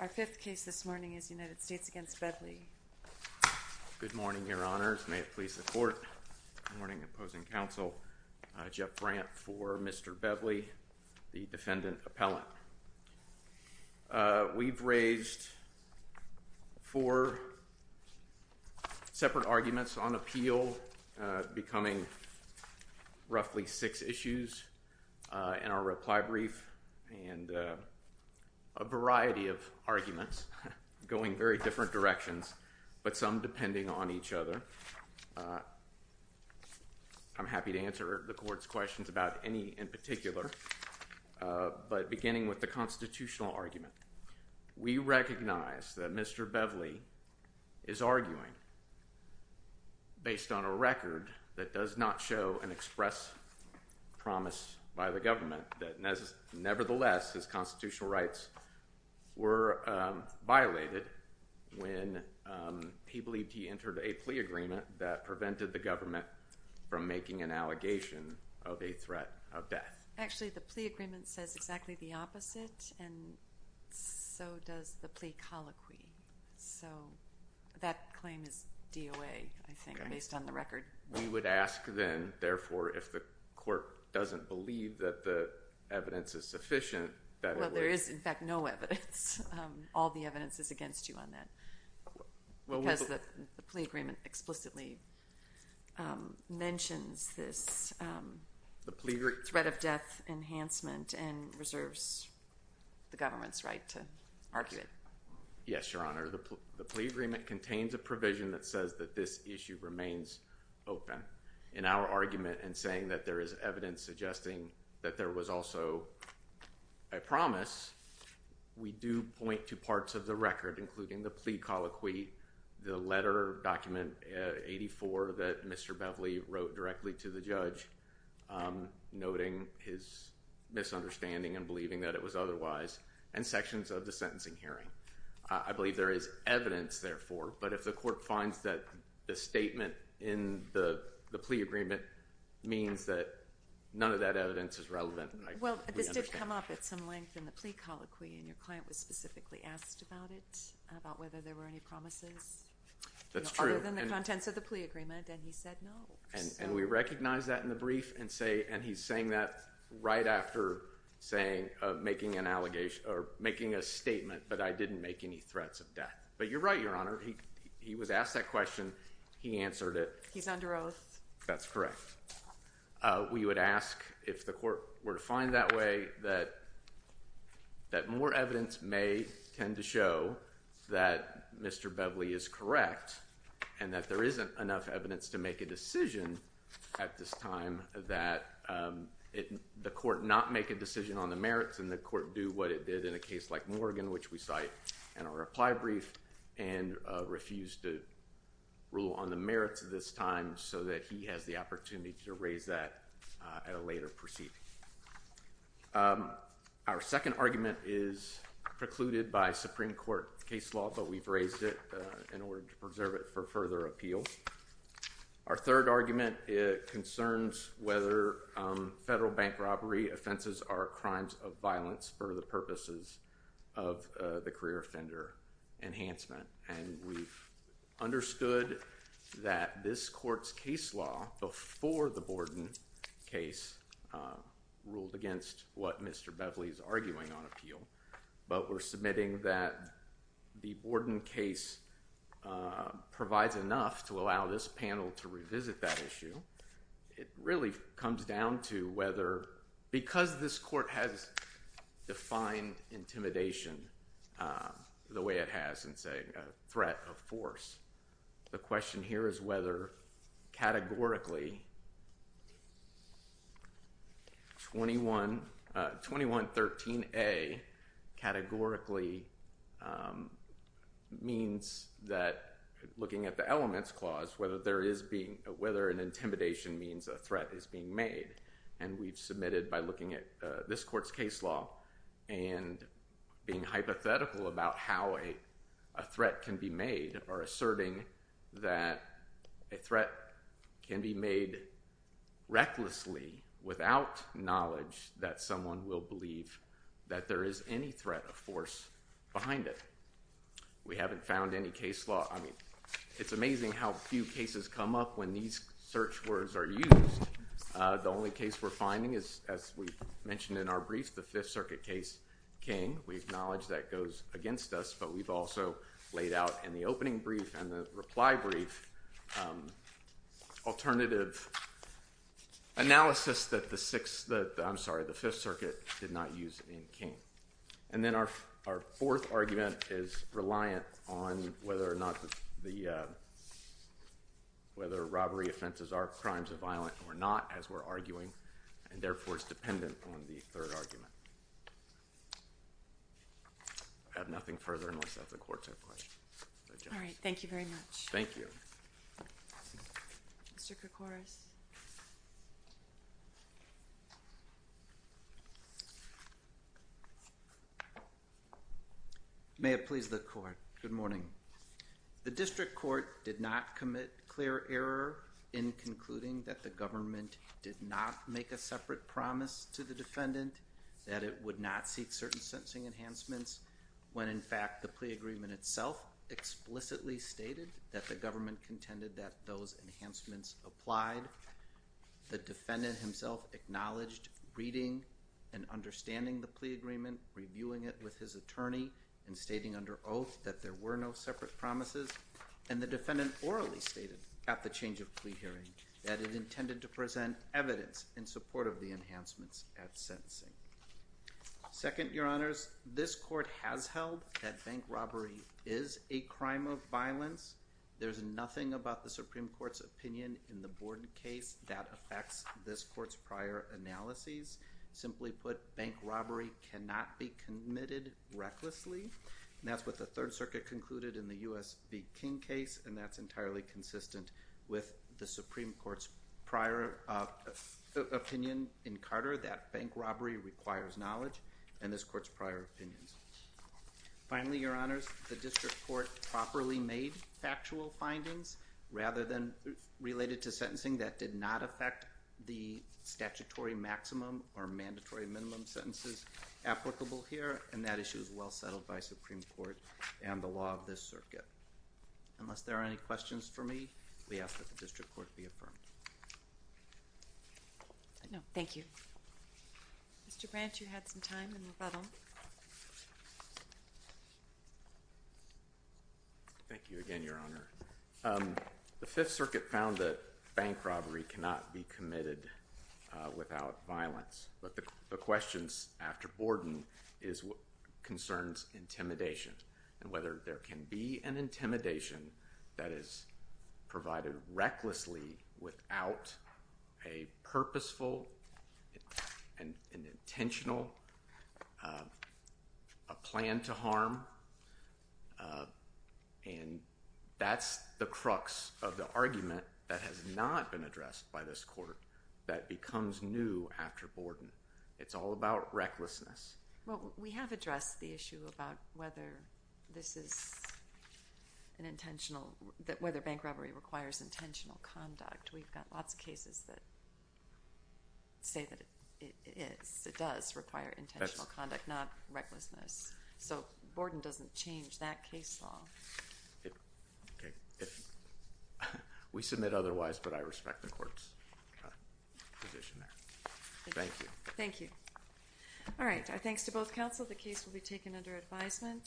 Our fifth case this morning is United States v. Bevly. Good morning, Your Honors. May it please the Court. Good morning, Opposing Counsel. Jeff Brandt for Mr. Bevly, the defendant appellant. We've raised four separate arguments on appeal, becoming roughly six issues in our reply brief and a variety of arguments going very different directions, but some depending on each other. I'm happy to answer the Court's questions about any in particular, but beginning with the constitutional argument, we recognize that Mr. Bevly is arguing based on a record that does not show and express promise by the government that nevertheless his constitutional rights were violated when he believed he entered a plea agreement that prevented the government from making an allegation of a threat of death. Actually, the plea agreement says exactly the opposite, and so does the plea colloquy, so that claim is DOA, I think, based on the record. We would ask then, therefore, if the Court doesn't believe that the evidence is sufficient, that it would. Well, there is, in fact, no evidence. All the evidence is against you on that because the plea agreement explicitly mentions this threat of death enhancement and reserves the government's right to argue it. Yes, Your Honor. The plea agreement contains a provision that says that this issue remains open in our argument in saying that there is evidence suggesting that there was also a promise. We do point to parts of the record, including the plea colloquy, the letter document 84 that Mr. Bevly wrote directly to the judge, noting his misunderstanding and believing that it was not. I believe there is evidence, therefore, but if the Court finds that the statement in the plea agreement means that none of that evidence is relevant, we understand. Well, this did come up at some length in the plea colloquy, and your client was specifically asked about it, about whether there were any promises other than the contents of the plea agreement, and he said no. And we recognize that in the brief, and he's saying that right after making a statement, but I didn't make any threats of death. But you're right, Your Honor. He was asked that question. He answered it. He's under oath. That's correct. We would ask if the Court were to find that way that more evidence may tend to show that Mr. Bevly is correct and that there isn't enough evidence to make a decision at this time that the Court not make a decision on the merits and the merits of this case, which we cite in our reply brief, and refuse to rule on the merits of this time so that he has the opportunity to raise that at a later proceeding. Our second argument is precluded by Supreme Court case law, but we've raised it in order to preserve it for further appeal. Our third argument concerns whether federal bank offenses are crimes of violence for the purposes of the career offender enhancement, and we've understood that this Court's case law before the Borden case ruled against what Mr. Bevly is arguing on appeal, but we're submitting that the Borden case provides enough to allow this panel to revisit that issue. It really comes down to whether, because this Court has defined intimidation the way it has in saying a threat of force, the question here is whether categorically 2113A categorically means that looking at the elements clause, whether an intimidation means a threat is being made, and we've submitted by looking at this Court's case law and being hypothetical about how a threat can be made or asserting that a threat can be made recklessly without knowledge that someone will believe that there is any threat of force behind it. We haven't found any case law. I mean, it's amazing how few cases come up when these search words are used. The only case we're finding is, as we mentioned in our brief, the Fifth Circuit case King. We acknowledge that goes against us, but we've also laid out in the opening brief and the analysis that the Sixth, I'm sorry, the Fifth Circuit did not use in King. And then our fourth argument is reliant on whether or not the, whether robbery offenses are crimes of violence or not, as we're arguing, and therefore it's dependent on the third argument. I have nothing further unless the Court has a question. All right, thank you very much. Thank you. Mr. Kourkouris. May it please the Court. Good morning. The District Court did not commit clear error in concluding that the government did not make a separate promise to the defendant, that it would not seek certain sentencing enhancements, when in fact the plea agreement itself explicitly stated that the government contended that those enhancements applied. The defendant himself acknowledged reading and understanding the plea agreement, reviewing it with his attorney, and stating under oath that there were no separate promises. And the defendant orally stated at the change of plea hearing that it intended to present evidence in support of the enhancements at There's nothing about the Supreme Court's opinion in the Borden case that affects this Court's prior analyses. Simply put, bank robbery cannot be committed recklessly. And that's what the Third Circuit concluded in the U.S. v. King case, and that's entirely consistent with the Supreme Court's prior opinion in Carter, that bank robbery requires knowledge, and this Court's prior opinions. Finally, Your Honors, the District Court properly made factual findings rather than related to sentencing that did not affect the statutory maximum or mandatory minimum sentences applicable here, and that issue is well settled by Supreme Court and the law of this circuit. Unless there are any questions for me, we ask that the District Court be affirmed. No, thank you. Mr. Branch, you had some time, and we'll let him. Thank you again, Your Honor. The Fifth Circuit found that bank robbery cannot be committed without violence, but the questions after Borden is what concerns intimidation, and whether there can be an intimidation that is provided recklessly without a purposeful and intentional plan to harm. And that's the crux of the argument that has not been addressed by this Court that becomes new after Borden. It's all about recklessness. Well, we have addressed the issue about whether this is an intentional, that whether bank robbery requires intentional conduct. We've got lots of cases that say that it is, it does require intentional conduct, not recklessness. So Borden doesn't change that case law. We submit otherwise, but I respect the Court's position there. Thank you. Thank you. All right. Our thanks to both counsel. The case will be taken under advisement.